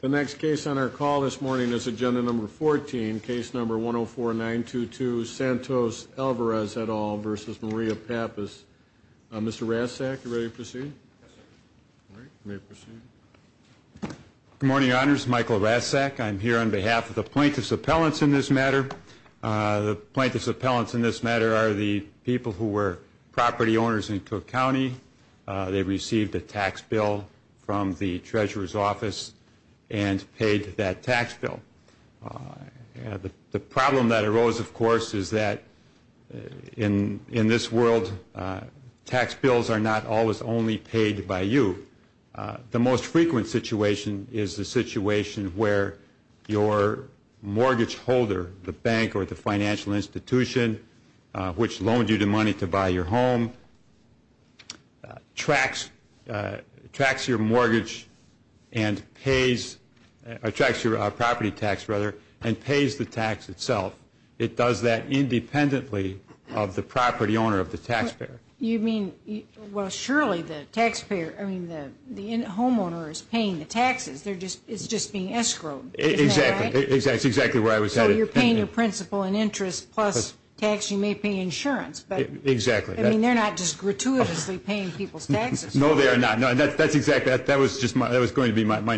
The next case on our call this morning is Agenda No. 14, Case No. 104922, Santos-Alvarez et al. v. Maria Pappas. Mr. Rasack, are you ready to proceed? Good morning, Your Honors. Michael Rasack. I'm here on behalf of the plaintiffs' appellants in this matter. The plaintiffs' appellants in this matter are the people who were property owners in Cook County. They received a tax bill from the treasurer's office and paid that tax bill. The problem that arose, of course, is that in this world, tax bills are not always only paid by you. The most frequent situation is the situation where your mortgage holder, the bank or the financial institution, which loaned you the money to buy your home, tracks your property tax and pays the tax itself. It does that independently of the property owner of the taxpayer. You mean, well, surely the taxpayer, I mean, the homeowner is paying the taxes. It's just being escrowed. Exactly. That's exactly where I was headed. So you're paying your principal and interest plus tax. You may pay insurance. Exactly. I mean, they're not just gratuitously paying people's taxes. No, they are not. That was going to be my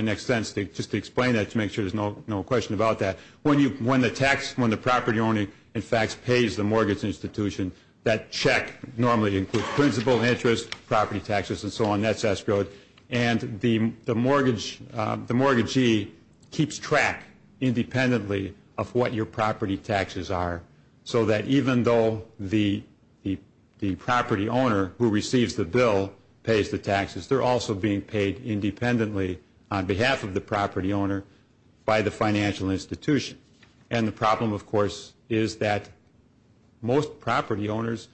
next sentence, just to explain that to make sure there's no question about that. When the property owner, in fact, pays the mortgage institution, that check normally includes principal, interest, property taxes and so on. That's escrowed. And the mortgagee keeps track independently of what your property taxes are so that even though the property owner who receives the bill pays the taxes, they're also being paid independently on behalf of the property owner by the financial institution. And the problem, of course, is that most property owners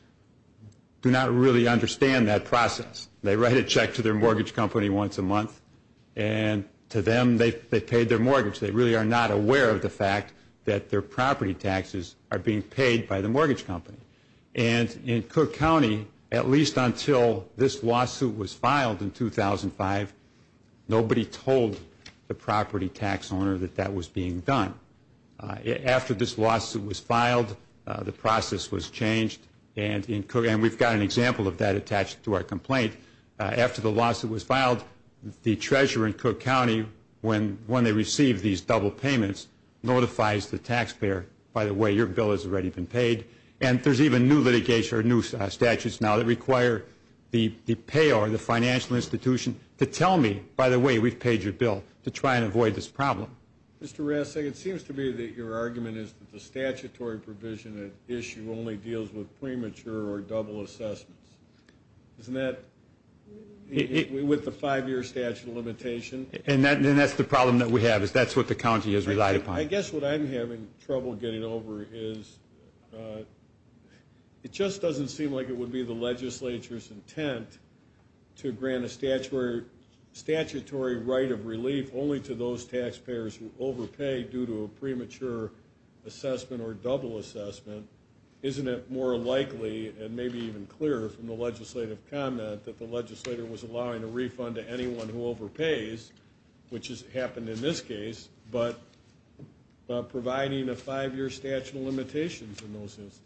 do not really understand that process. They write a check to their mortgage company once a month, and to them they've paid their mortgage. They really are not aware of the fact that their property taxes are being paid by the mortgage company. And in Cook County, at least until this lawsuit was filed in 2005, nobody told the property tax owner that that was being done. After this lawsuit was filed, the process was changed. And we've got an example of that attached to our complaint. After the lawsuit was filed, the treasurer in Cook County, when they receive these double payments, notifies the taxpayer, by the way, your bill has already been paid. And there's even new litigation or new statutes now that require the payor, the financial institution, to tell me, by the way, we've paid your bill, to try and avoid this problem. Mr. Rasick, it seems to me that your argument is that the statutory provision at issue only deals with premature or double assessments. Isn't that with the five-year statute limitation? And that's the problem that we have, is that's what the county has relied upon. I guess what I'm having trouble getting over is, it just doesn't seem like it would be the legislature's intent to grant a statutory right of relief only to those taxpayers who overpay due to a premature assessment or double assessment. Isn't it more likely and maybe even clearer from the legislative comment that the legislator was allowing a refund to anyone who overpays, which has happened in this case, but providing a five-year statute of limitations in those instances?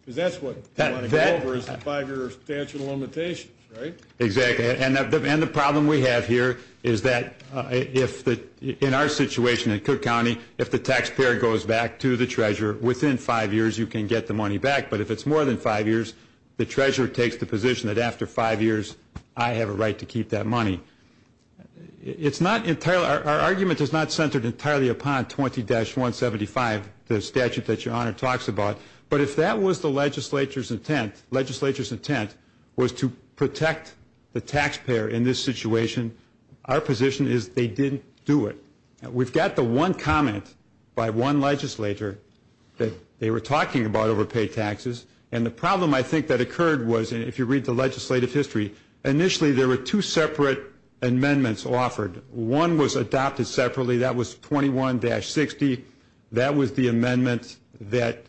Because that's what they want to get over is the five-year statute of limitations, right? Exactly. And the problem we have here is that in our situation in Cook County, if the taxpayer goes back to the treasurer, within five years you can get the money back. But if it's more than five years, the treasurer takes the position that after five years, I have a right to keep that money. Our argument is not centered entirely upon 20-175, the statute that Your Honor talks about. But if that was the legislature's intent, was to protect the taxpayer in this situation, our position is they didn't do it. We've got the one comment by one legislator that they were talking about overpay taxes. And the problem I think that occurred was, if you read the legislative history, initially there were two separate amendments offered. One was adopted separately. That was 21-60. That was the amendment that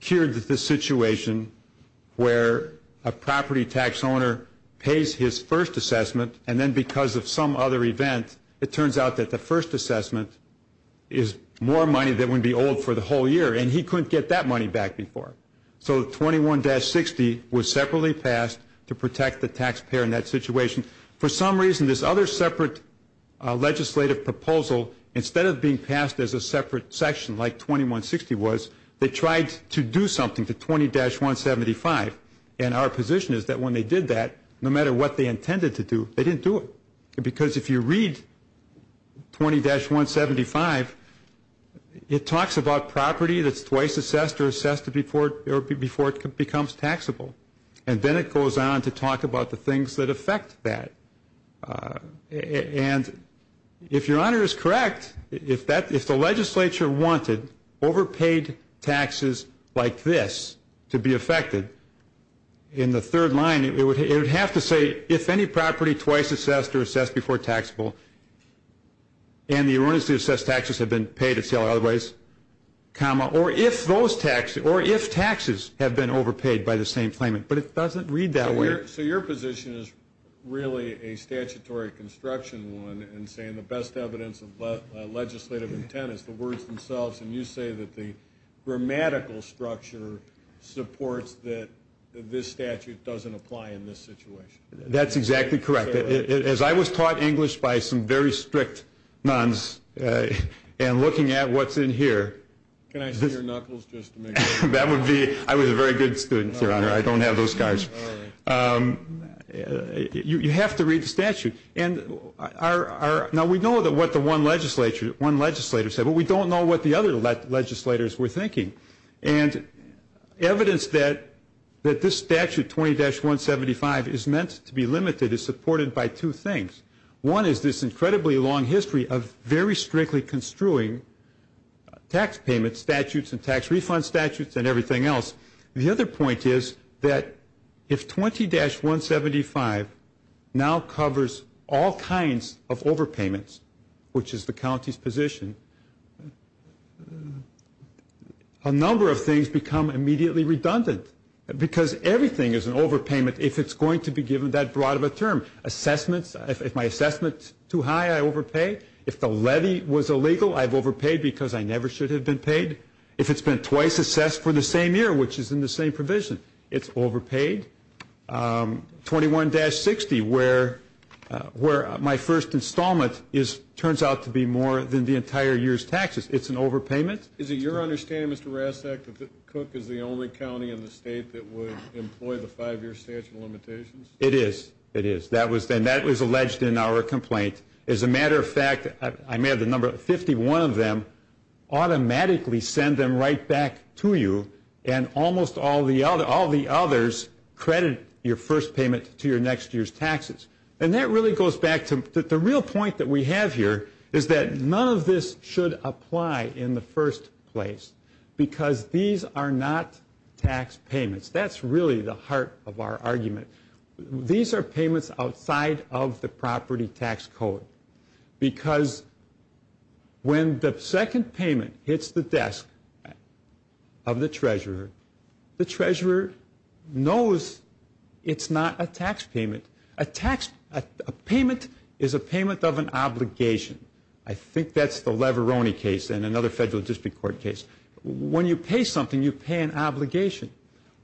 cured the situation where a property tax owner pays his first assessment and then because of some other event, it turns out that the first assessment is more money that would be owed for the whole year. And he couldn't get that money back before. So 21-60 was separately passed to protect the taxpayer in that situation. For some reason, this other separate legislative proposal, instead of being passed as a separate section like 21-60 was, they tried to do something to 20-175. And our position is that when they did that, no matter what they intended to do, they didn't do it. Because if you read 20-175, it talks about property that's twice assessed or assessed before it becomes taxable. And then it goes on to talk about the things that affect that. And if Your Honor is correct, if the legislature wanted overpaid taxes like this to be affected, in the third line it would have to say, if any property twice assessed or assessed before taxable and the owners who assessed taxes have been paid at sale otherwise, or if taxes have been overpaid by the same claimant. But it doesn't read that way. So your position is really a statutory construction one and saying the best evidence of legislative intent is the words themselves. And you say that the grammatical structure supports that this statute doesn't apply in this situation. That's exactly correct. As I was taught English by some very strict nuns, and looking at what's in here. Can I see your knuckles just to make sure? I was a very good student, Your Honor. You have to read the statute. Now we know what the one legislator said, but we don't know what the other legislators were thinking. And evidence that this statute, 20-175, is meant to be limited is supported by two things. One is this incredibly long history of very strictly construing tax payment statutes and tax refund statutes and everything else. The other point is that if 20-175 now covers all kinds of overpayments, which is the county's position, a number of things become immediately redundant. Because everything is an overpayment if it's going to be given that broad of a term. Assessments, if my assessment's too high, I overpay. If the levy was illegal, I've overpaid because I never should have been paid. If it's been twice assessed for the same year, which is in the same provision, it's overpaid. 21-60, where my first installment turns out to be more than the entire year's taxes, it's an overpayment. Is it your understanding, Mr. Rasak, that Cook is the only county in the state that would employ the five-year statute of limitations? It is. It is. And that was alleged in our complaint. As a matter of fact, I may have the number. Fifty-one of them automatically send them right back to you, and almost all the others credit your first payment to your next year's taxes. And that really goes back to the real point that we have here is that none of this should apply in the first place because these are not tax payments. That's really the heart of our argument. These are payments outside of the property tax code because when the second payment hits the desk of the treasurer, the treasurer knows it's not a tax payment. A payment is a payment of an obligation. I think that's the Leveroni case and another federal district court case. When you pay something, you pay an obligation.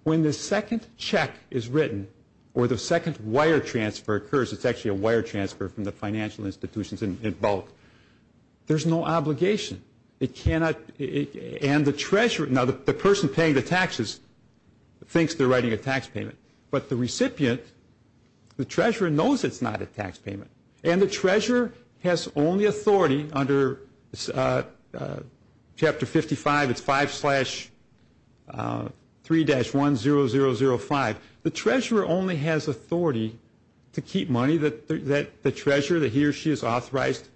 When the second check is written or the second wire transfer occurs, it's actually a wire transfer from the financial institutions in bulk, there's no obligation. And the treasurer, now the person paying the taxes thinks they're writing a tax payment, but the recipient, the treasurer, knows it's not a tax payment. And the treasurer has only authority under Chapter 55, it's 5-3-10005. The treasurer only has authority to keep money that the treasurer, that he or she is authorized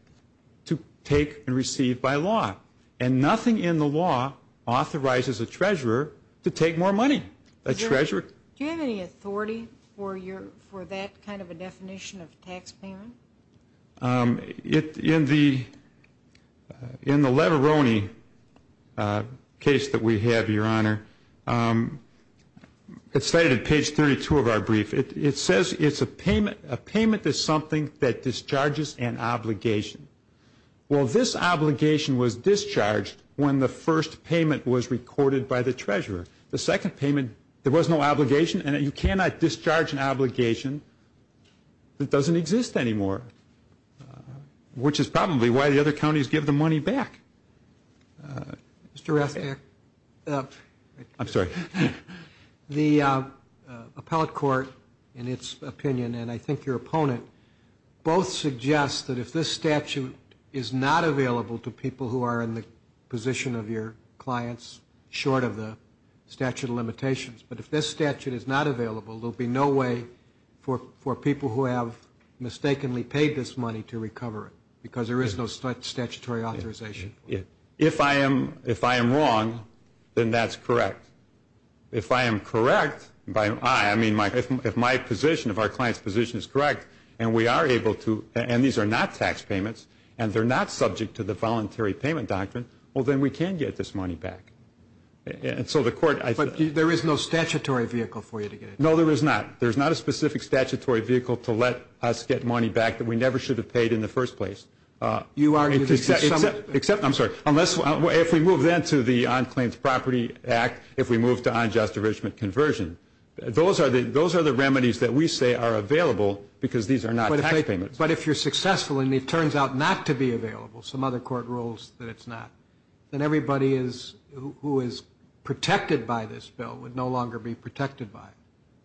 to take and receive by law. And nothing in the law authorizes a treasurer to take more money. Do you have any authority for that kind of a definition of a tax payment? In the Leveroni case that we have, Your Honor, it's stated at page 32 of our brief. It says a payment is something that discharges an obligation. Well, this obligation was discharged when the first payment was recorded by the treasurer. The second payment, there was no obligation, and you cannot discharge an obligation that doesn't exist anymore, which is probably why the other counties give the money back. Mr. Rastak. I'm sorry. The appellate court, in its opinion, and I think your opponent, both suggest that if this statute is not available to people who are in the position of your clients, short of the statute of limitations, but if this statute is not available, there will be no way for people who have mistakenly paid this money to recover it because there is no statutory authorization. If I am wrong, then that's correct. If I am correct, if my position, if our client's position is correct, and we are able to, and these are not tax payments, and they're not subject to the voluntary payment doctrine, well, then we can get this money back. But there is no statutory vehicle for you to get it back. No, there is not. There is not a specific statutory vehicle to let us get money back that we never should have paid in the first place. You are arguing that some of it. I'm sorry. If we move then to the On Claims Property Act, if we move to unjust enrichment conversion, those are the remedies that we say are available because these are not tax payments. But if you're successful and it turns out not to be available, some other court rules that it's not, then everybody who is protected by this bill would no longer be protected by it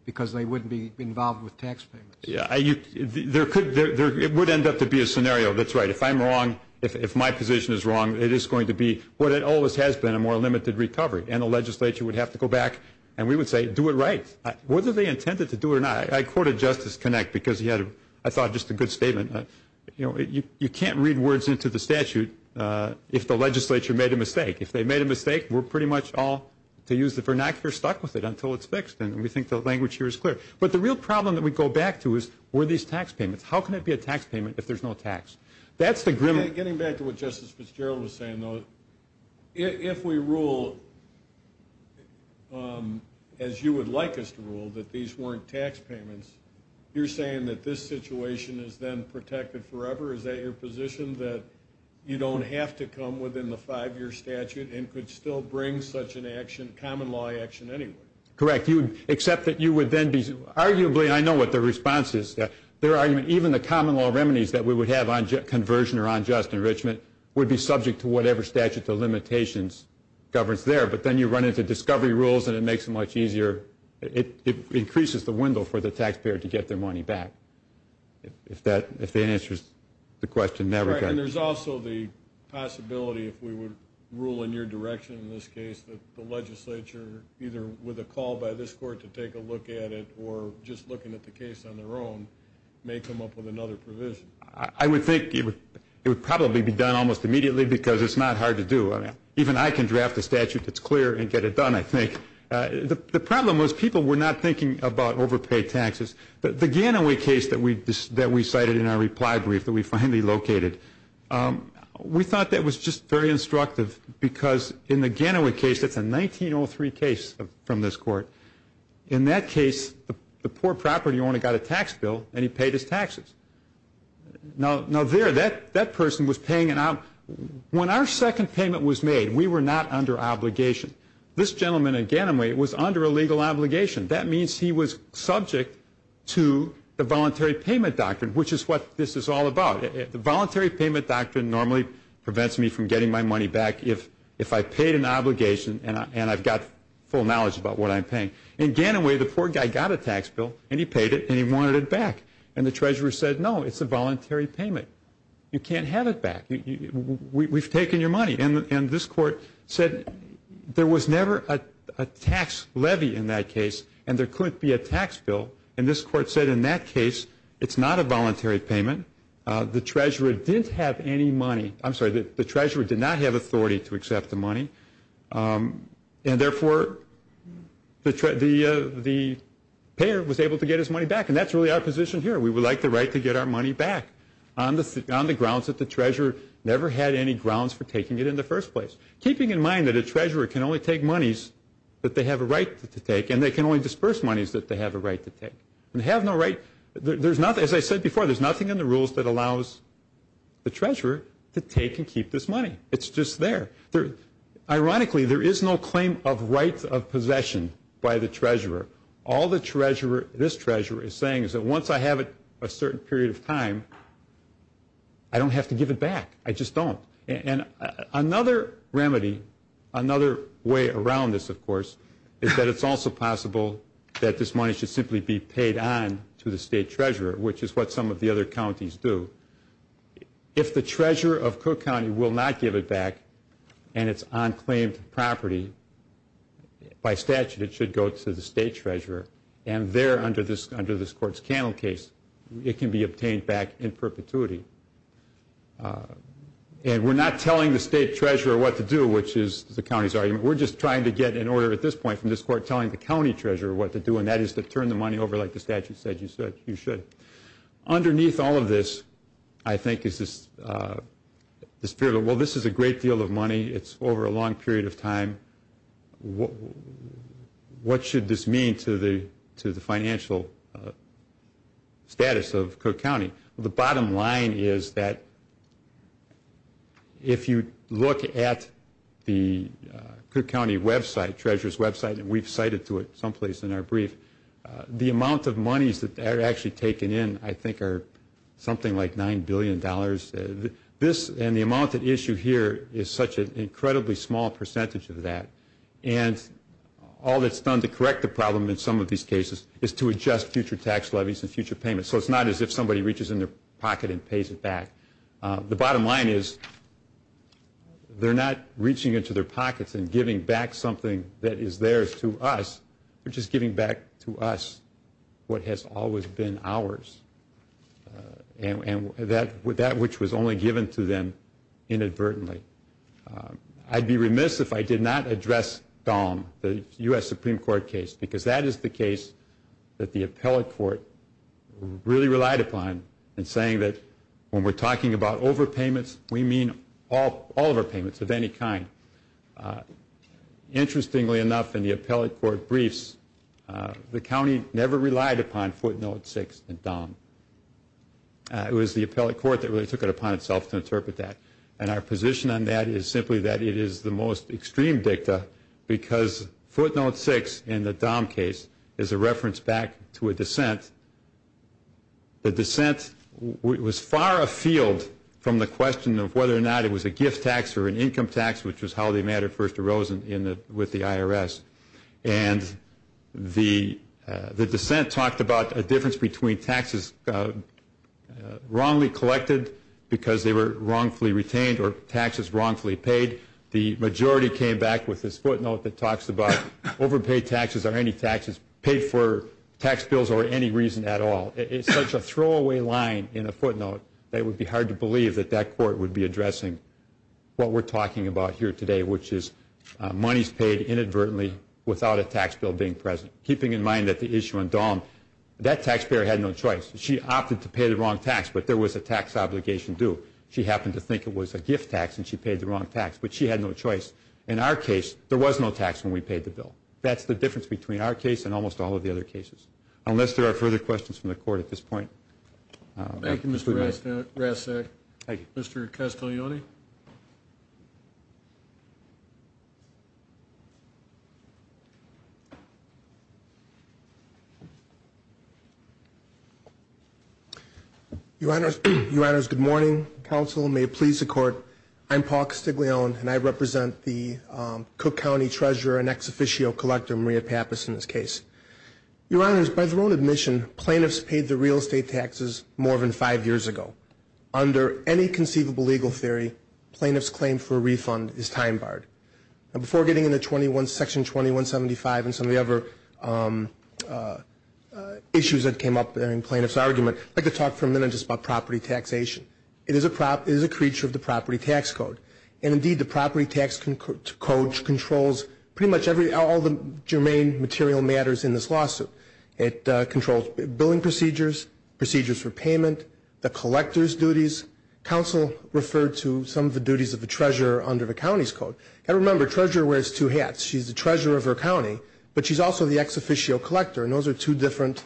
because they wouldn't be involved with tax payments. Yeah. It would end up to be a scenario that's right. If I'm wrong, if my position is wrong, it is going to be what it always has been, a more limited recovery, and the legislature would have to go back and we would say, do it right. Whether they intended to do it or not, I quoted Justice Connick because he had, I thought, just a good statement. You know, you can't read words into the statute if the legislature made a mistake. If they made a mistake, we're pretty much all, to use the vernacular, stuck with it until it's fixed, and we think the language here is clear. But the real problem that we go back to is, were these tax payments? How can it be a tax payment if there's no tax? That's the grim. Getting back to what Justice Fitzgerald was saying, though, if we rule, as you would like us to rule, that these weren't tax payments, you're saying that this situation is then protected forever? Is that your position, that you don't have to come within the five-year statute and could still bring such a common law action anyway? Correct, except that you would then be, arguably, and I know what the response is, even the common law remedies that we would have on conversion or on just enrichment would be subject to whatever statute the limitations governs there. But then you run into discovery rules, and it makes it much easier. It increases the window for the taxpayer to get their money back, if that answers the question. And there's also the possibility, if we would rule in your direction in this case, that the legislature, either with a call by this court to take a look at it or just looking at the case on their own, may come up with another provision. I would think it would probably be done almost immediately because it's not hard to do. Even I can draft a statute that's clear and get it done, I think. The problem was people were not thinking about overpaid taxes. The Ganaway case that we cited in our reply brief that we finally located, we thought that was just very instructive because in the Ganaway case, that's a 1903 case from this court. In that case, the poor property owner got a tax bill, and he paid his taxes. Now, there, that person was paying it out. When our second payment was made, we were not under obligation. This gentleman in Ganaway was under a legal obligation. That means he was subject to the voluntary payment doctrine, which is what this is all about. The voluntary payment doctrine normally prevents me from getting my money back if I paid an obligation and I've got full knowledge about what I'm paying. In Ganaway, the poor guy got a tax bill, and he paid it, and he wanted it back. The treasurer said, no, it's a voluntary payment. You can't have it back. We've taken your money. This court said there was never a tax levy in that case, and there couldn't be a tax bill. This court said in that case, it's not a voluntary payment. The treasurer didn't have any money. I'm sorry, the treasurer did not have authority to accept the money, and therefore the payer was able to get his money back, and that's really our position here. We would like the right to get our money back on the grounds that the treasurer never had any grounds for taking it in the first place, keeping in mind that a treasurer can only take monies that they have a right to take, and they can only disperse monies that they have a right to take. They have no right. As I said before, there's nothing in the rules that allows the treasurer to take and keep this money. It's just there. Ironically, there is no claim of right of possession by the treasurer. All this treasurer is saying is that once I have it a certain period of time, I don't have to give it back. I just don't. It's also possible that this money should simply be paid on to the state treasurer, which is what some of the other counties do. If the treasurer of Cook County will not give it back and it's on claimed property, by statute it should go to the state treasurer, and there under this Court's Cannell case, it can be obtained back in perpetuity. We're not telling the state treasurer what to do, which is the county's argument. We're just trying to get an order at this point from this Court telling the county treasurer what to do, and that is to turn the money over like the statute said you should. Underneath all of this, I think, is this spirit of, well, this is a great deal of money. It's over a long period of time. What should this mean to the financial status of Cook County? The bottom line is that if you look at the Cook County website, treasurer's website, and we've cited to it someplace in our brief, the amount of monies that are actually taken in, I think, are something like $9 billion. This and the amount at issue here is such an incredibly small percentage of that, and all that's done to correct the problem in some of these cases is to adjust future tax levies and future payments so it's not as if somebody reaches in their pocket and pays it back. The bottom line is they're not reaching into their pockets and giving back something that is theirs to us, they're just giving back to us what has always been ours, and that which was only given to them inadvertently. I'd be remiss if I did not address Dahm, the U.S. Supreme Court case, because that is the case that the appellate court really relied upon in saying that when we're talking about overpayments, we mean all of our payments of any kind. Interestingly enough, in the appellate court briefs, the county never relied upon footnote 6 in Dahm. It was the appellate court that really took it upon itself to interpret that, and our position on that is simply that it is the most extreme dicta because footnote 6 in the Dahm case is a reference back to a dissent. The dissent was far afield from the question of whether or not it was a gift tax or an income tax, which was how the matter first arose with the IRS, and the dissent talked about a difference between taxes wrongly collected because they were wrongfully retained or taxes wrongfully paid. The majority came back with this footnote that talks about overpaid taxes or any taxes paid for tax bills or any reason at all. It's such a throwaway line in a footnote that it would be hard to believe that that court would be addressing what we're talking about here today, which is monies paid inadvertently without a tax bill being present, keeping in mind that the issue in Dahm, that taxpayer had no choice. She opted to pay the wrong tax, but there was a tax obligation due. She happened to think it was a gift tax and she paid the wrong tax, but she had no choice. In our case, there was no tax when we paid the bill. That's the difference between our case and almost all of the other cases, unless there are further questions from the court at this point. Thank you, Mr. Rastak. Mr. Castiglione? Your Honors, good morning. Counsel, may it please the Court, I'm Paul Castiglione and I represent the Cook County treasurer and ex-officio collector, Maria Pappas, in this case. Your Honors, by their own admission, plaintiffs paid their real estate taxes more than five years ago. claim for a refund is time-barred. Now, before getting into Section 2175 and some of the other issues that came up in plaintiff's argument, I'd like to talk for a minute just about property taxation. It is a creature of the property tax code, and indeed the property tax code controls pretty much all the germane material matters in this lawsuit. Counsel referred to some of the duties of the treasurer under the county's code. And remember, treasurer wears two hats. She's the treasurer of her county, but she's also the ex-officio collector, and those are two different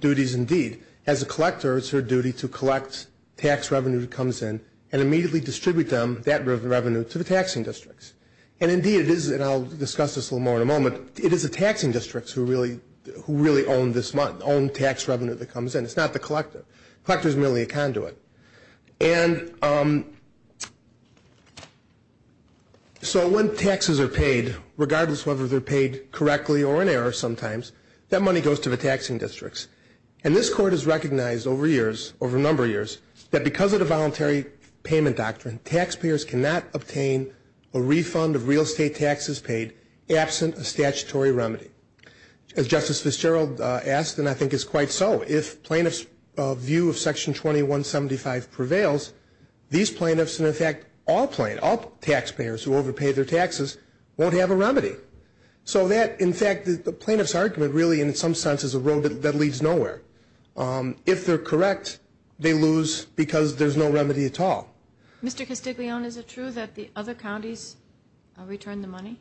duties indeed. As a collector, it's her duty to collect tax revenue that comes in and immediately distribute that revenue to the taxing districts. And indeed it is, and I'll discuss this a little more in a moment, it is the taxing districts who really own this money, own tax revenue that comes in. It's not the collector. The collector is merely a conduit. And so when taxes are paid, regardless whether they're paid correctly or in error sometimes, that money goes to the taxing districts. And this Court has recognized over years, over a number of years, that because of the voluntary payment doctrine, taxpayers cannot obtain a refund of real estate taxes paid absent a statutory remedy. As Justice Fitzgerald asked, and I think is quite so, if plaintiffs' view of Section 2175 prevails, these plaintiffs, and in fact all taxpayers who overpay their taxes, won't have a remedy. So that, in fact, the plaintiff's argument really in some sense is a road that leads nowhere. If they're correct, they lose because there's no remedy at all. Mr. Castiglione, is it true that the other counties return the money?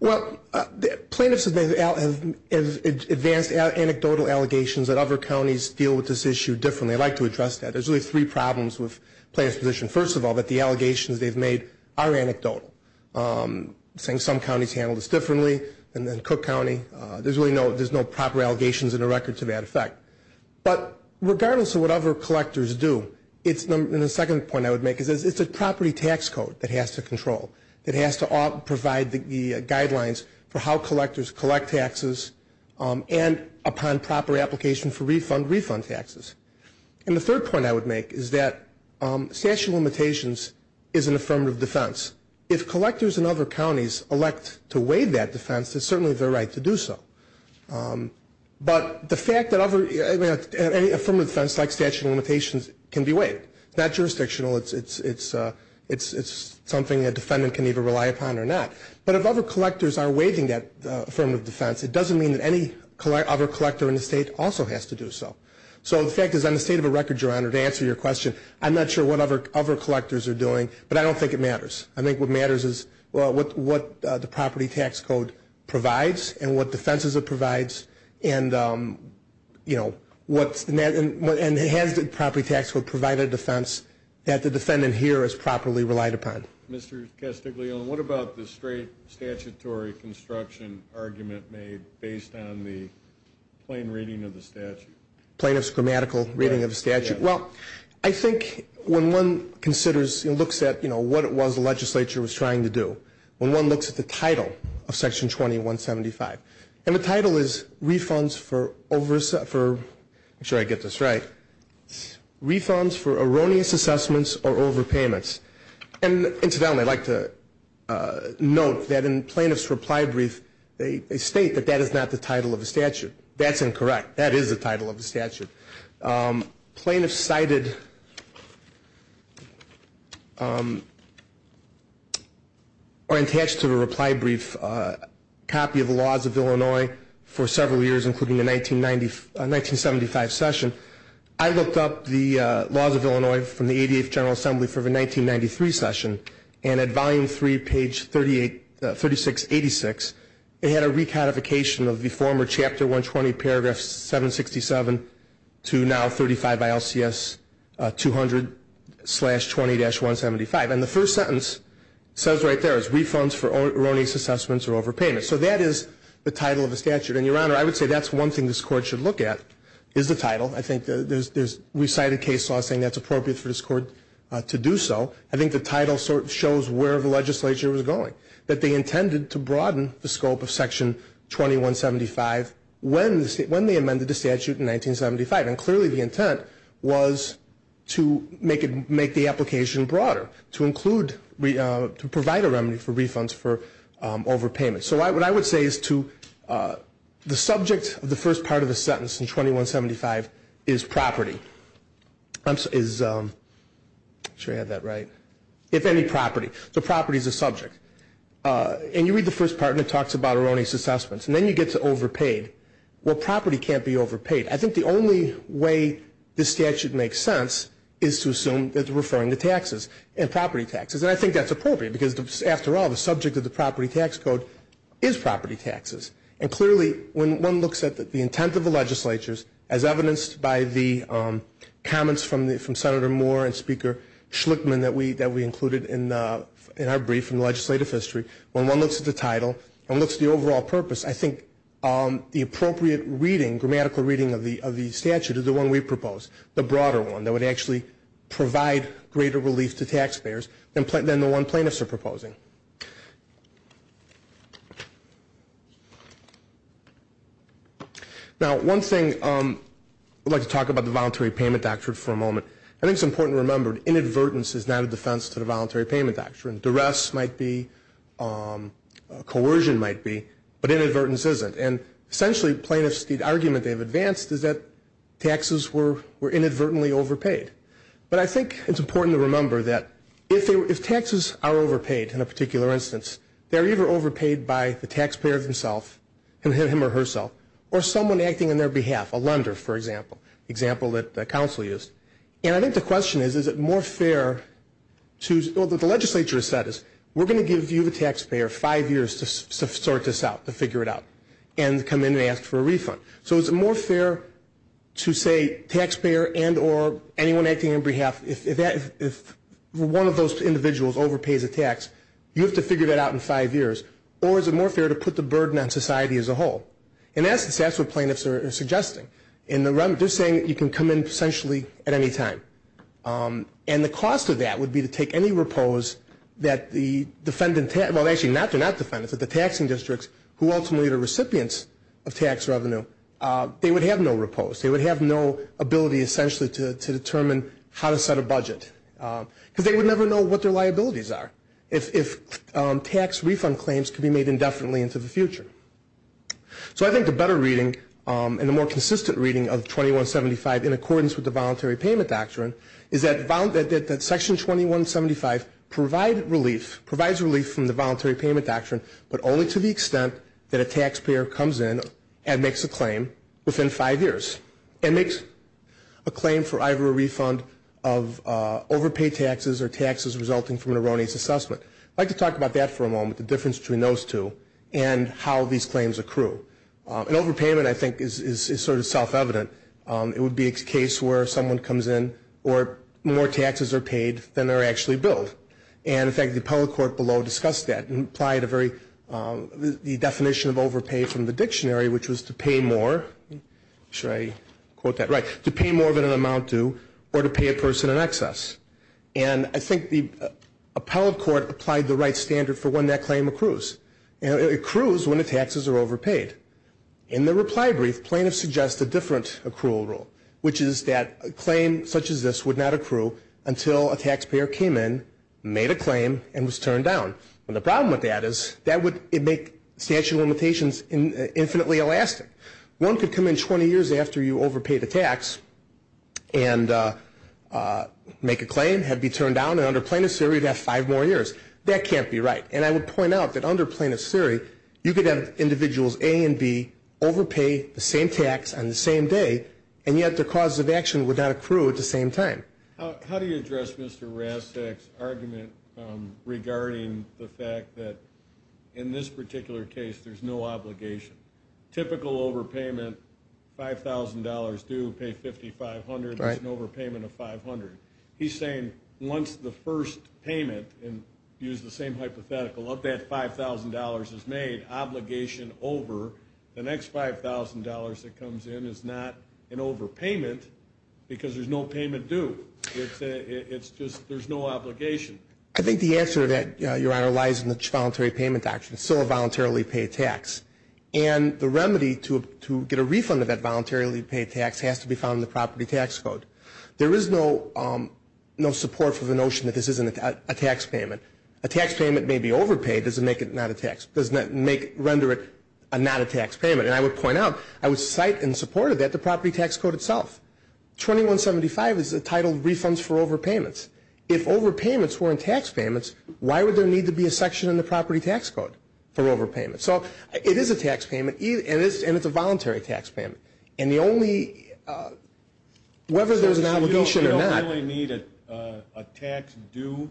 Well, plaintiffs have advanced anecdotal allegations that other counties deal with this issue differently. I'd like to address that. There's really three problems with plaintiffs' position. First of all, that the allegations they've made are anecdotal, saying some counties handled this differently than Cook County. There's really no proper allegations in the record to that effect. But regardless of what other collectors do, and the second point I would make is it's a property tax code that has to control, that has to provide the guidelines for how collectors collect taxes and upon proper application for refund, refund taxes. And the third point I would make is that statute of limitations is an affirmative defense. If collectors in other counties elect to waive that defense, it's certainly their right to do so. But the fact that any affirmative defense like statute of limitations can be waived, it's not jurisdictional, it's something a defendant can either rely upon or not. But if other collectors are waiving that affirmative defense, it doesn't mean that any other collector in the state also has to do so. So the fact is, on the state of the record, Your Honor, to answer your question, I'm not sure what other collectors are doing, but I don't think it matters. I think what matters is what the property tax code provides and what defenses it provides and has the property tax code provide a defense that the defendant here has properly relied upon. Mr. Castiglione, what about the straight statutory construction argument made based on the plain reading of the statute? Plaintiff's grammatical reading of the statute? Well, I think when one considers and looks at what it was the legislature was trying to do, when one looks at the title of Section 2175, and the title is refunds for over- make sure I get this right, refunds for erroneous assessments or overpayments. And incidentally, I'd like to note that in plaintiff's reply brief, they state that that is not the title of the statute. That's incorrect. That is the title of the statute. Plaintiffs cited or attached to a reply brief copy of the laws of Illinois for several years, including the 1975 session. I looked up the laws of Illinois from the 88th General Assembly for the 1993 session, and at volume 3, page 3686, they had a recodification of the former chapter 120, paragraph 767, to now 35 ILCS 200, slash 20-175. And the first sentence says right there it's refunds for erroneous assessments or overpayments. So that is the title of the statute. And, Your Honor, I would say that's one thing this Court should look at is the title. I think there's recited case law saying that's appropriate for this Court to do so. I think the title shows where the legislature was going, that they intended to broaden the scope of Section 2175 when they amended the statute in 1975. And clearly the intent was to make the application broader, to include, to provide a remedy for refunds for overpayments. So what I would say is to the subject of the first part of the sentence in 2175 is property. I'm sure I had that right. If any property. So property is a subject. And you read the first part and it talks about erroneous assessments. And then you get to overpaid. Well, property can't be overpaid. I think the only way this statute makes sense is to assume that they're referring to taxes and property taxes. And I think that's appropriate because, after all, the subject of the property tax code is property taxes. And clearly when one looks at the intent of the legislatures, as evidenced by the comments from Senator Moore and Speaker Schlickman that we included in our brief in the legislative history, when one looks at the title and looks at the overall purpose, I think the appropriate reading, grammatical reading, of the statute is the one we propose, the broader one, that would actually provide greater relief to taxpayers than the one plaintiffs are proposing. Now, one thing, I'd like to talk about the Voluntary Payment Doctrine for a moment. I think it's important to remember, inadvertence is not a defense to the Voluntary Payment Doctrine. Duress might be, coercion might be, but inadvertence isn't. And essentially, plaintiffs, the argument they've advanced is that taxes were inadvertently overpaid. But I think it's important to remember that if taxes are overpaid, in a particular instance, they're either overpaid by the taxpayer himself, him or herself, or someone acting on their behalf, a lender, for example, the example that the council used. And I think the question is, is it more fair to, well, the legislature has said is, we're going to give you, the taxpayer, five years to sort this out, to figure it out, and come in and ask for a refund. So is it more fair to say taxpayer and or anyone acting on your behalf, if one of those individuals overpays a tax, you have to figure that out in five years, or is it more fair to put the burden on society as a whole? And that's what plaintiffs are suggesting. And they're saying that you can come in essentially at any time. And the cost of that would be to take any repose that the defendant, well, actually, they're not defendants, but the taxing districts, who ultimately are recipients of tax revenue, they would have no repose. They would have no ability, essentially, to determine how to set a budget. Because they would never know what their liabilities are, if tax refund claims could be made indefinitely into the future. So I think the better reading and the more consistent reading of 2175, in accordance with the Voluntary Payment Doctrine, is that Section 2175 provides relief from the Voluntary Payment Doctrine, but only to the extent that a taxpayer comes in and makes a claim within five years, and makes a claim for either a refund of overpaid taxes or taxes resulting from an erroneous assessment. I'd like to talk about that for a moment, the difference between those two, and how these claims accrue. And overpayment, I think, is sort of self-evident. It would be a case where someone comes in, or more taxes are paid than they're actually billed. And, in fact, the appellate court below discussed that and applied a very, the definition of overpay from the dictionary, which was to pay more, should I quote that right, to pay more than an amount due, or to pay a person in excess. And I think the appellate court applied the right standard for when that claim accrues. It accrues when the taxes are overpaid. In the reply brief, plaintiffs suggest a different accrual rule, which is that a claim such as this would not accrue until a taxpayer came in, made a claim, and was turned down. And the problem with that is that would make statute of limitations infinitely elastic. One could come in 20 years after you overpaid a tax and make a claim, had it be turned down, and under plaintiff's theory, you'd have five more years. That can't be right. And I would point out that under plaintiff's theory, you could have individuals A and B overpay the same tax on the same day, and yet their cause of action would not accrue at the same time. How do you address Mr. Rastak's argument regarding the fact that in this particular case, there's no obligation? Typical overpayment, $5,000 due, pay $5,500, there's an overpayment of $500. He's saying once the first payment, and use the same hypothetical, of that $5,000 is made, obligation over the next $5,000 that comes in is not an overpayment because there's no payment due. It's just there's no obligation. I think the answer to that, Your Honor, lies in the voluntary payment doctrine. It's still a voluntarily paid tax. And the remedy to get a refund of that voluntarily paid tax has to be found in the property tax code. There is no support for the notion that this isn't a tax payment. A tax payment may be overpaid. Does it render it not a tax payment? And I would point out, I would cite in support of that the property tax code itself. 2175 is the title of refunds for overpayments. If overpayments weren't tax payments, why would there need to be a section in the property tax code for overpayments? So it is a tax payment, and it's a voluntary tax payment. And the only, whether there's an obligation or not. So you don't really need a tax due?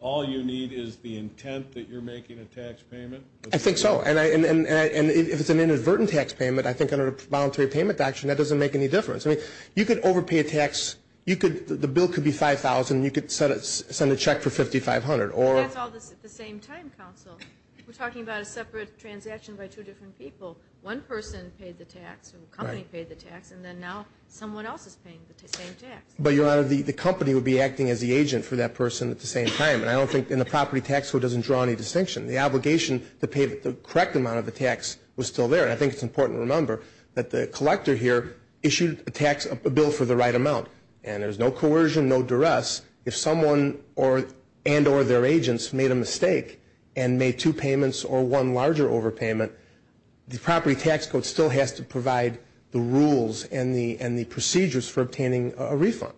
All you need is the intent that you're making a tax payment? I think so. And if it's an inadvertent tax payment, I think under the voluntary payment doctrine, that doesn't make any difference. I mean, you could overpay a tax. The bill could be $5,000, and you could send a check for $5,500. That's all at the same time, counsel. We're talking about a separate transaction by two different people. One person paid the tax, or a company paid the tax, and then now someone else is paying the same tax. But, Your Honor, the company would be acting as the agent for that person at the same time. And I don't think, and the property tax code doesn't draw any distinction. The obligation to pay the correct amount of the tax was still there. And I think it's important to remember that the collector here issued a tax, a bill for the right amount. And there's no coercion, no duress. If someone and or their agents made a mistake and made two payments or one larger overpayment, the property tax code still has to provide the rules and the procedures for obtaining a refund.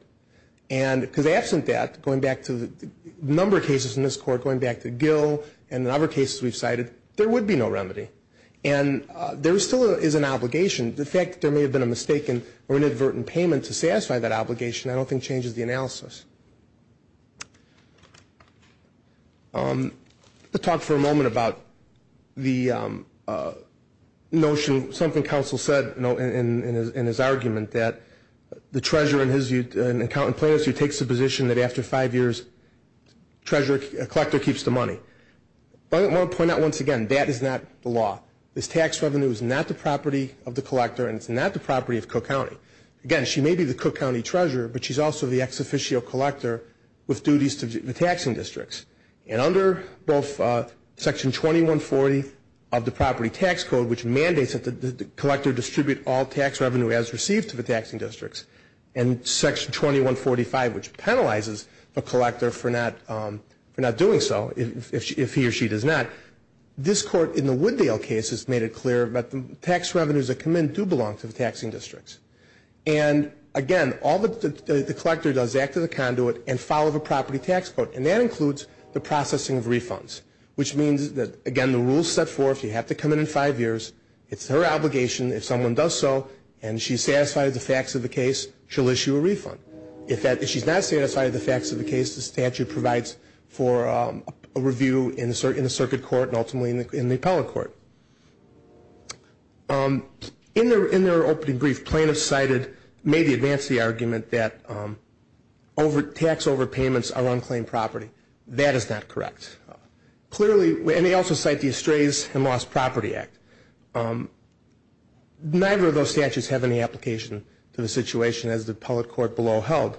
Because absent that, going back to a number of cases in this court, going back to Gill and other cases we've cited, there would be no remedy. And there still is an obligation. The fact that there may have been a mistake or an inadvertent payment to satisfy that obligation I don't think changes the analysis. I want to talk for a moment about the notion, something counsel said in his argument, that the treasurer in his view, an accountant in plaintiff's view, takes the position that after five years a collector keeps the money. But I want to point out once again, that is not the law. This tax revenue is not the property of the collector and it's not the property of Cook County. Again, she may be the Cook County treasurer, but she's also the ex-officio collector with duties to the taxing districts. And under both section 2140 of the property tax code, which mandates that the collector distribute all tax revenue as received to the taxing districts, and section 2145, which penalizes a collector for not doing so if he or she does not, this court in the Wooddale case has made it clear that the tax revenues that come in do belong to the taxing districts. And again, all that the collector does is act as a conduit and follow the property tax code. And that includes the processing of refunds, which means that, again, the rule is set forth. You have to come in in five years. It's her obligation if someone does so and she's satisfied with the facts of the case, she'll issue a refund. If she's not satisfied with the facts of the case, the statute provides for a review in the circuit court and ultimately in the appellate court. In their opening brief, plaintiffs cited, maybe advance the argument that tax overpayments are unclaimed property. That is not correct. Clearly, and they also cite the Estrays and Lost Property Act. Neither of those statutes have any application to the situation as the appellate court below held.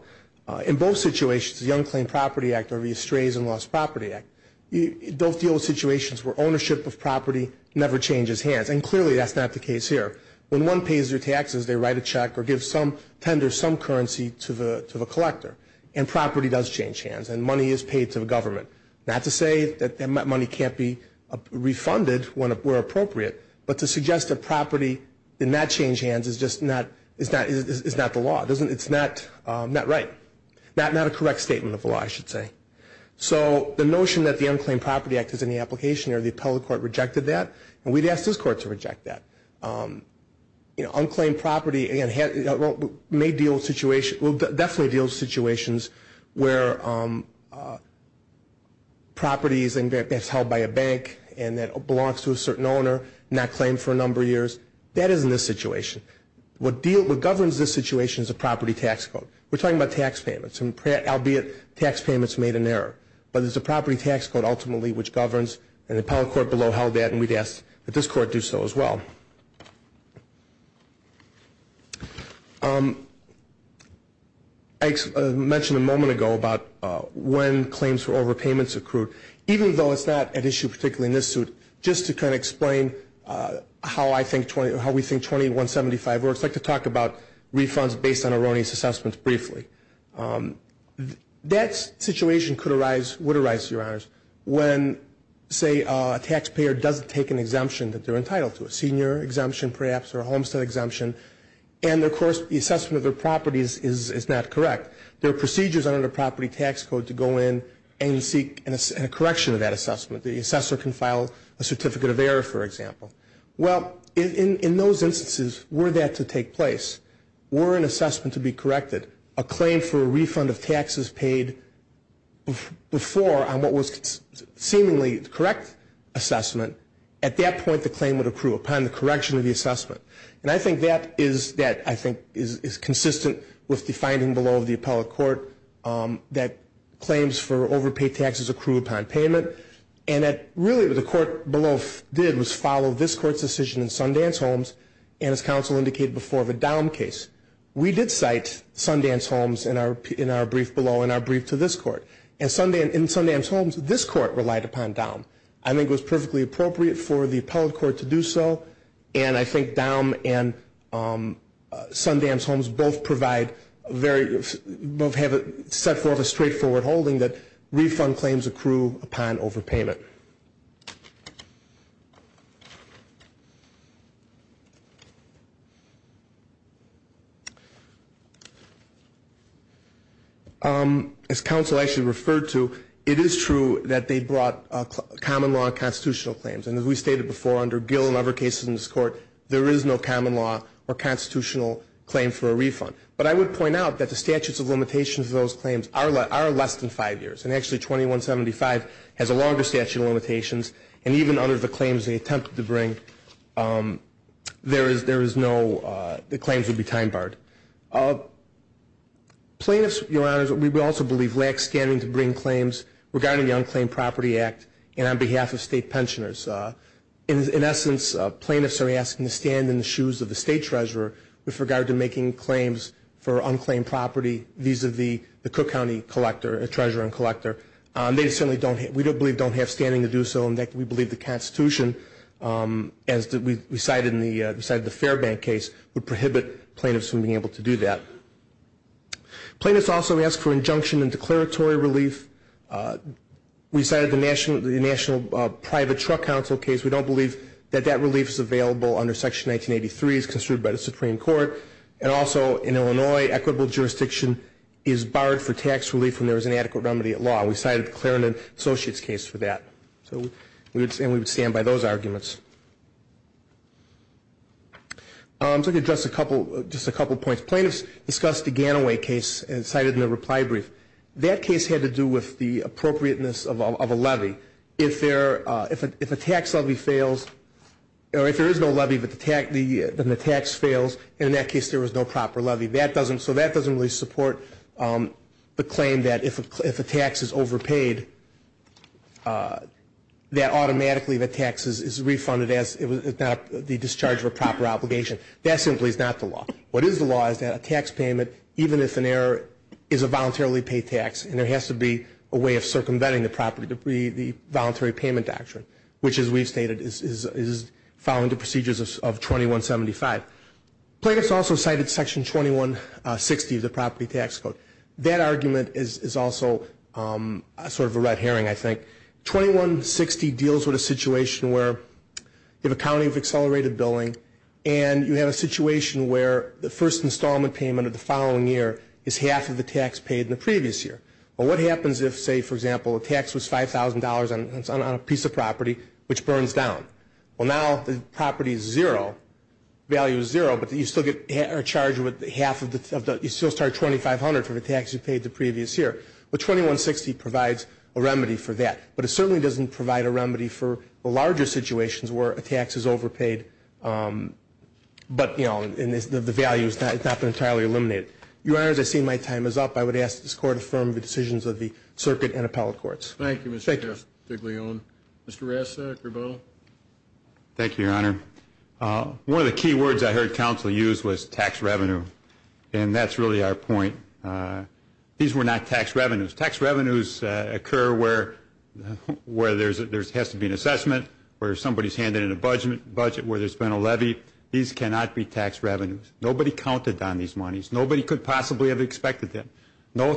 In both situations, the Unclaimed Property Act or the Estrays and Lost Property Act, those deal with situations where ownership of property never changes hands. And clearly, that's not the case here. When one pays their taxes, they write a check or give some tender, some currency to the collector, and property does change hands and money is paid to the government. Not to say that money can't be refunded where appropriate, but to suggest that property did not change hands is just not the law. It's not right. Not a correct statement of the law, I should say. So the notion that the Unclaimed Property Act is in the application or the appellate court rejected that, and we'd ask this court to reject that. Unclaimed property may deal with situations, will definitely deal with situations where properties that's held by a bank and that belongs to a certain owner, not claimed for a number of years, that is in this situation. What governs this situation is a property tax code. We're talking about tax payments, albeit tax payments made in error. But it's a property tax code ultimately which governs, and the appellate court below held that and we'd ask that this court do so as well. I mentioned a moment ago about when claims for overpayments accrued. Even though it's not an issue particularly in this suit, just to kind of explain how we think 2175 works, I'd like to talk about refunds based on erroneous assessments briefly. That situation could arise, would arise, Your Honors, when say a taxpayer doesn't take an exemption that they're entitled to, a senior exemption perhaps or a homestead exemption, and of course the assessment of their property is not correct. There are procedures under the property tax code to go in and seek a correction of that assessment. The assessor can file a certificate of error, for example. Well, in those instances were that to take place, were an assessment to be corrected, a claim for a refund of taxes paid before on what was seemingly the correct assessment, at that point the claim would accrue upon the correction of the assessment. And I think that is consistent with the finding below of the appellate court that claims for overpaid taxes accrue upon payment, and that really what the court below did was follow this court's decision in Sundance Homes and, as counsel indicated before, the Dahm case. We did cite Sundance Homes in our brief below in our brief to this court. In Sundance Homes, this court relied upon Dahm. I think it was perfectly appropriate for the appellate court to do so, and I think Dahm and Sundance Homes both provide very, both have a, set forth a straightforward holding that refund claims accrue upon overpayment. As counsel actually referred to, it is true that they brought common law and constitutional claims, and as we stated before under Gill and other cases in this court, there is no common law or constitutional claim for a refund. But I would point out that the statutes of limitations of those claims are less than five years, and actually 2175 has a longer statute of limitations, and even under the claims they attempted to bring, there is no, the claims would be time barred. Plaintiffs, Your Honors, we would also believe, lack standing to bring claims regarding the Unclaimed Property Act and on behalf of state pensioners. In essence, plaintiffs are asking to stand in the shoes of the state treasurer with regard to making claims for unclaimed property vis-à-vis the Cook County collector, the treasurer and collector. They certainly don't, we believe, don't have standing to do so, and we believe the Constitution, as we cited in the Fairbank case, would prohibit plaintiffs from being able to do that. Plaintiffs also ask for injunction and declaratory relief. We cited the National Private Truck Council case. We don't believe that that relief is available under Section 1983 as construed by the Supreme Court, and also in Illinois, equitable jurisdiction is barred for tax relief when there is inadequate remedy at law. We cited the Clarendon Associates case for that, and we would stand by those arguments. I'm going to address just a couple of points. Plaintiffs discussed the Ganaway case and cited in the reply brief. That case had to do with the appropriateness of a levy. If a tax levy fails, or if there is no levy, then the tax fails, and in that case there was no proper levy. So that doesn't really support the claim that if a tax is overpaid, that automatically the tax is refunded as the discharge of a proper obligation. That simply is not the law. What is the law is that a tax payment, even if an error, is a voluntarily paid tax, and there has to be a way of circumventing the voluntary payment doctrine, which, as we've stated, is following the procedures of 2175. Plaintiffs also cited Section 2160 of the property tax code. That argument is also sort of a red herring, I think. 2160 deals with a situation where you have a county of accelerated billing, and you have a situation where the first installment payment of the following year is half of the tax paid in the previous year. Well, what happens if, say, for example, a tax was $5,000 on a piece of property, which burns down? Well, now the property is zero, value is zero, but you still get charged with half of the tax. You still start at $2,500 for the tax you paid the previous year. But 2160 provides a remedy for that. But it certainly doesn't provide a remedy for the larger situations where a tax is overpaid, but, you know, the value has not been entirely eliminated. Your Honors, I see my time is up. I would ask that this Court affirm the decisions of the circuit and appellate courts. Thank you, Mr. Diglione. Mr. Ressa? Thank you, Your Honor. One of the key words I heard counsel use was tax revenue, and that's really our point. These were not tax revenues. Tax revenues occur where there has to be an assessment, where somebody is handed in a budget where there's been a levy. These cannot be tax revenues. Nobody counted on these monies. Nobody could possibly have expected them. Not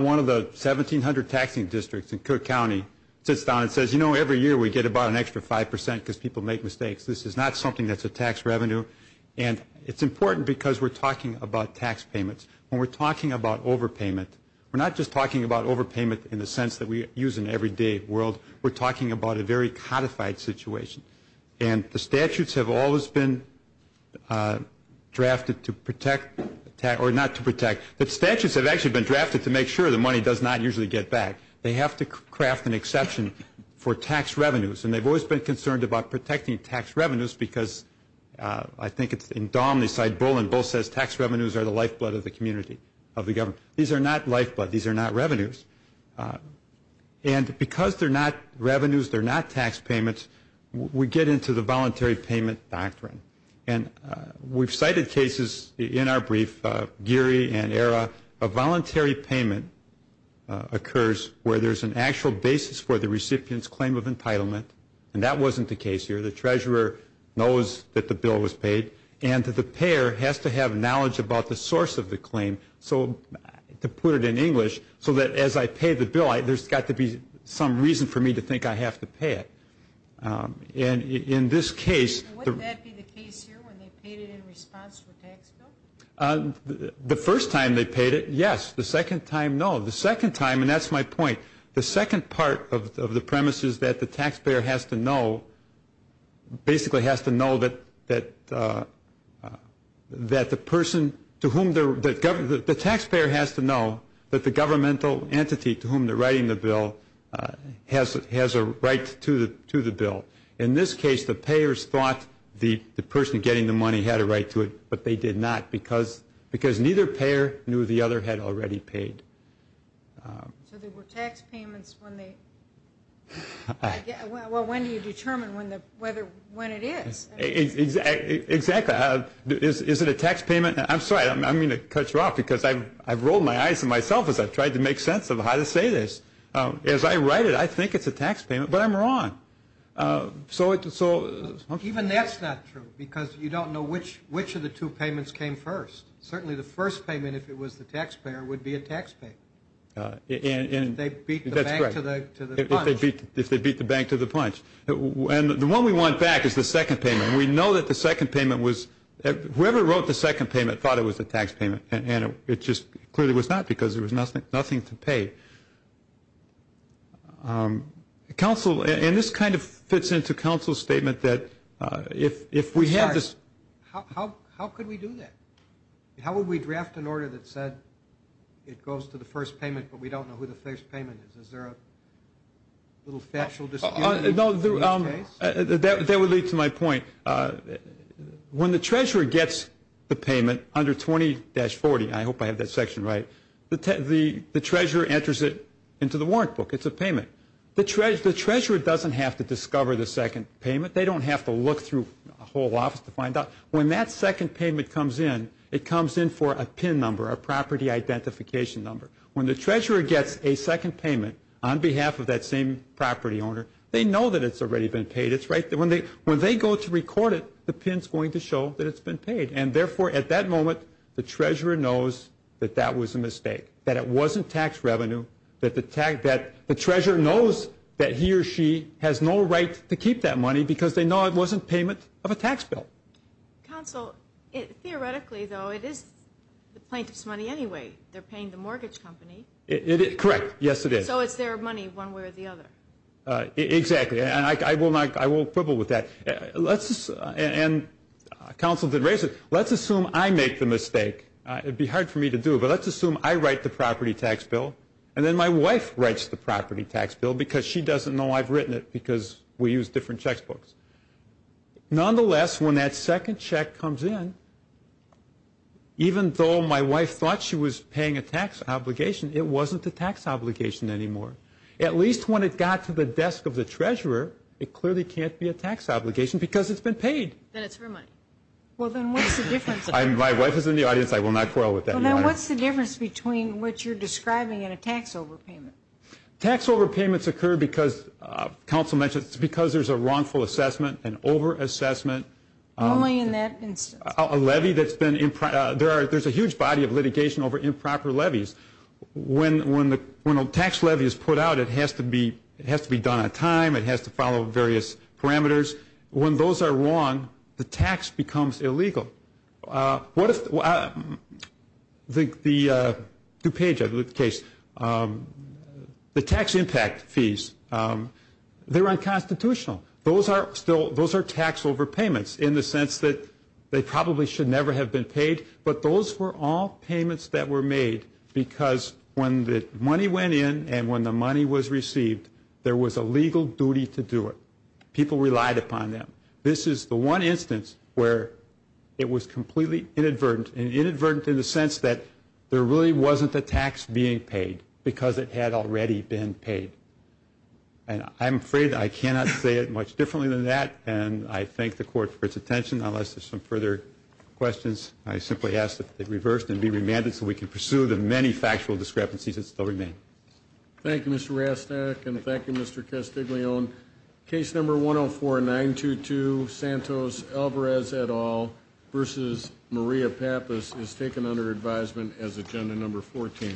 one of the 1,700 taxing districts in Cook County sits down and says, you know, every year we get about an extra 5% because people make mistakes. This is not something that's a tax revenue. And it's important because we're talking about tax payments. When we're talking about overpayment, we're not just talking about overpayment in the sense that we use in the everyday world. We're talking about a very codified situation. And the statutes have always been drafted to protect or not to protect. The statutes have actually been drafted to make sure the money does not usually get back. They have to craft an exception for tax revenues, and they've always been concerned about protecting tax revenues because I think it's in Dom, they cite Bull, and Bull says tax revenues are the lifeblood of the community, of the government. These are not lifeblood. These are not revenues. And because they're not revenues, they're not tax payments, we get into the voluntary payment doctrine. And we've cited cases in our brief, Geary and Era. A voluntary payment occurs where there's an actual basis for the recipient's claim of entitlement, and that wasn't the case here. The treasurer knows that the bill was paid, and the payer has to have knowledge about the source of the claim, to put it in English, so that as I pay the bill there's got to be some reason for me to think I have to pay it. And in this case... Wouldn't that be the case here when they paid it in response to a tax bill? The first time they paid it, yes. The second time, no. The second time, and that's my point, the second part of the premise is that the taxpayer has to know, basically has to know that the person to whom they're, the taxpayer has to know that the governmental entity to whom they're writing the bill has a right to the bill. In this case, the payers thought the person getting the money had a right to it, but they did not, because neither payer knew the other had already paid. So there were tax payments when they... Well, when do you determine when it is? Exactly. Is it a tax payment? I'm sorry, I'm going to cut you off, because I've rolled my eyes at myself as I've tried to make sense of how to say this. As I write it, I think it's a tax payment, but I'm wrong. So... Even that's not true, because you don't know which of the two payments came first. Certainly the first payment, if it was the taxpayer, would be a tax pay. If they beat the bank to the punch. If they beat the bank to the punch. And the one we want back is the second payment. We know that the second payment was... Whoever wrote the second payment thought it was a tax payment, and it just clearly was not, because there was nothing to pay. Counsel, and this kind of fits into counsel's statement that if we have this... How could we do that? How would we draft an order that said it goes to the first payment, but we don't know who the first payment is? Is there a little factual dispute in this case? That would lead to my point. When the treasurer gets the payment under 20-40, I hope I have that section right, the treasurer enters it into the warrant book. It's a payment. The treasurer doesn't have to discover the second payment. They don't have to look through a whole office to find out. When that second payment comes in, it comes in for a PIN number, a property identification number. When the treasurer gets a second payment on behalf of that same property owner, they know that it's already been paid. When they go to record it, the PIN's going to show that it's been paid. And, therefore, at that moment, the treasurer knows that that was a mistake, that it wasn't tax revenue, that the treasurer knows that he or she has no right to keep that money because they know it wasn't payment of a tax bill. Counsel, theoretically, though, it is the plaintiff's money anyway. They're paying the mortgage company. Correct. Yes, it is. So it's their money one way or the other. Exactly. And I will quibble with that. And counsel did raise it. Let's assume I make the mistake. It would be hard for me to do, but let's assume I write the property tax bill, and then my wife writes the property tax bill because she doesn't know I've written it because we use different checkbooks. Nonetheless, when that second check comes in, even though my wife thought she was paying a tax obligation, it wasn't a tax obligation anymore. At least when it got to the desk of the treasurer, it clearly can't be a tax obligation because it's been paid. Then it's her money. Well, then what's the difference? My wife is in the audience. I will not quarrel with that. Well, then what's the difference between what you're describing and a tax overpayment? Tax overpayments occur because, counsel mentioned, it's because there's a wrongful assessment, an overassessment. Only in that instance. A levy that's been improper. There's a huge body of litigation over improper levies. When a tax levy is put out, it has to be done on time. It has to follow various parameters. When those are wrong, the tax becomes illegal. What if the DuPage case, the tax impact fees, they're unconstitutional. Those are tax overpayments in the sense that they probably should never have been paid, but those were all payments that were made because when the money went in and when the money was received, there was a legal duty to do it. People relied upon them. This is the one instance where it was completely inadvertent, and inadvertent in the sense that there really wasn't a tax being paid because it had already been paid. I'm afraid I cannot say it much differently than that, and I thank the Court for its attention. Unless there's some further questions, I simply ask that they be reversed and be remanded so we can pursue the many factual discrepancies that still remain. Thank you, Mr. Rastak, and thank you, Mr. Castiglione. Case number 104-922, Santos Alvarez et al. v. Maria Pappas is taken under advisement as agenda number 14.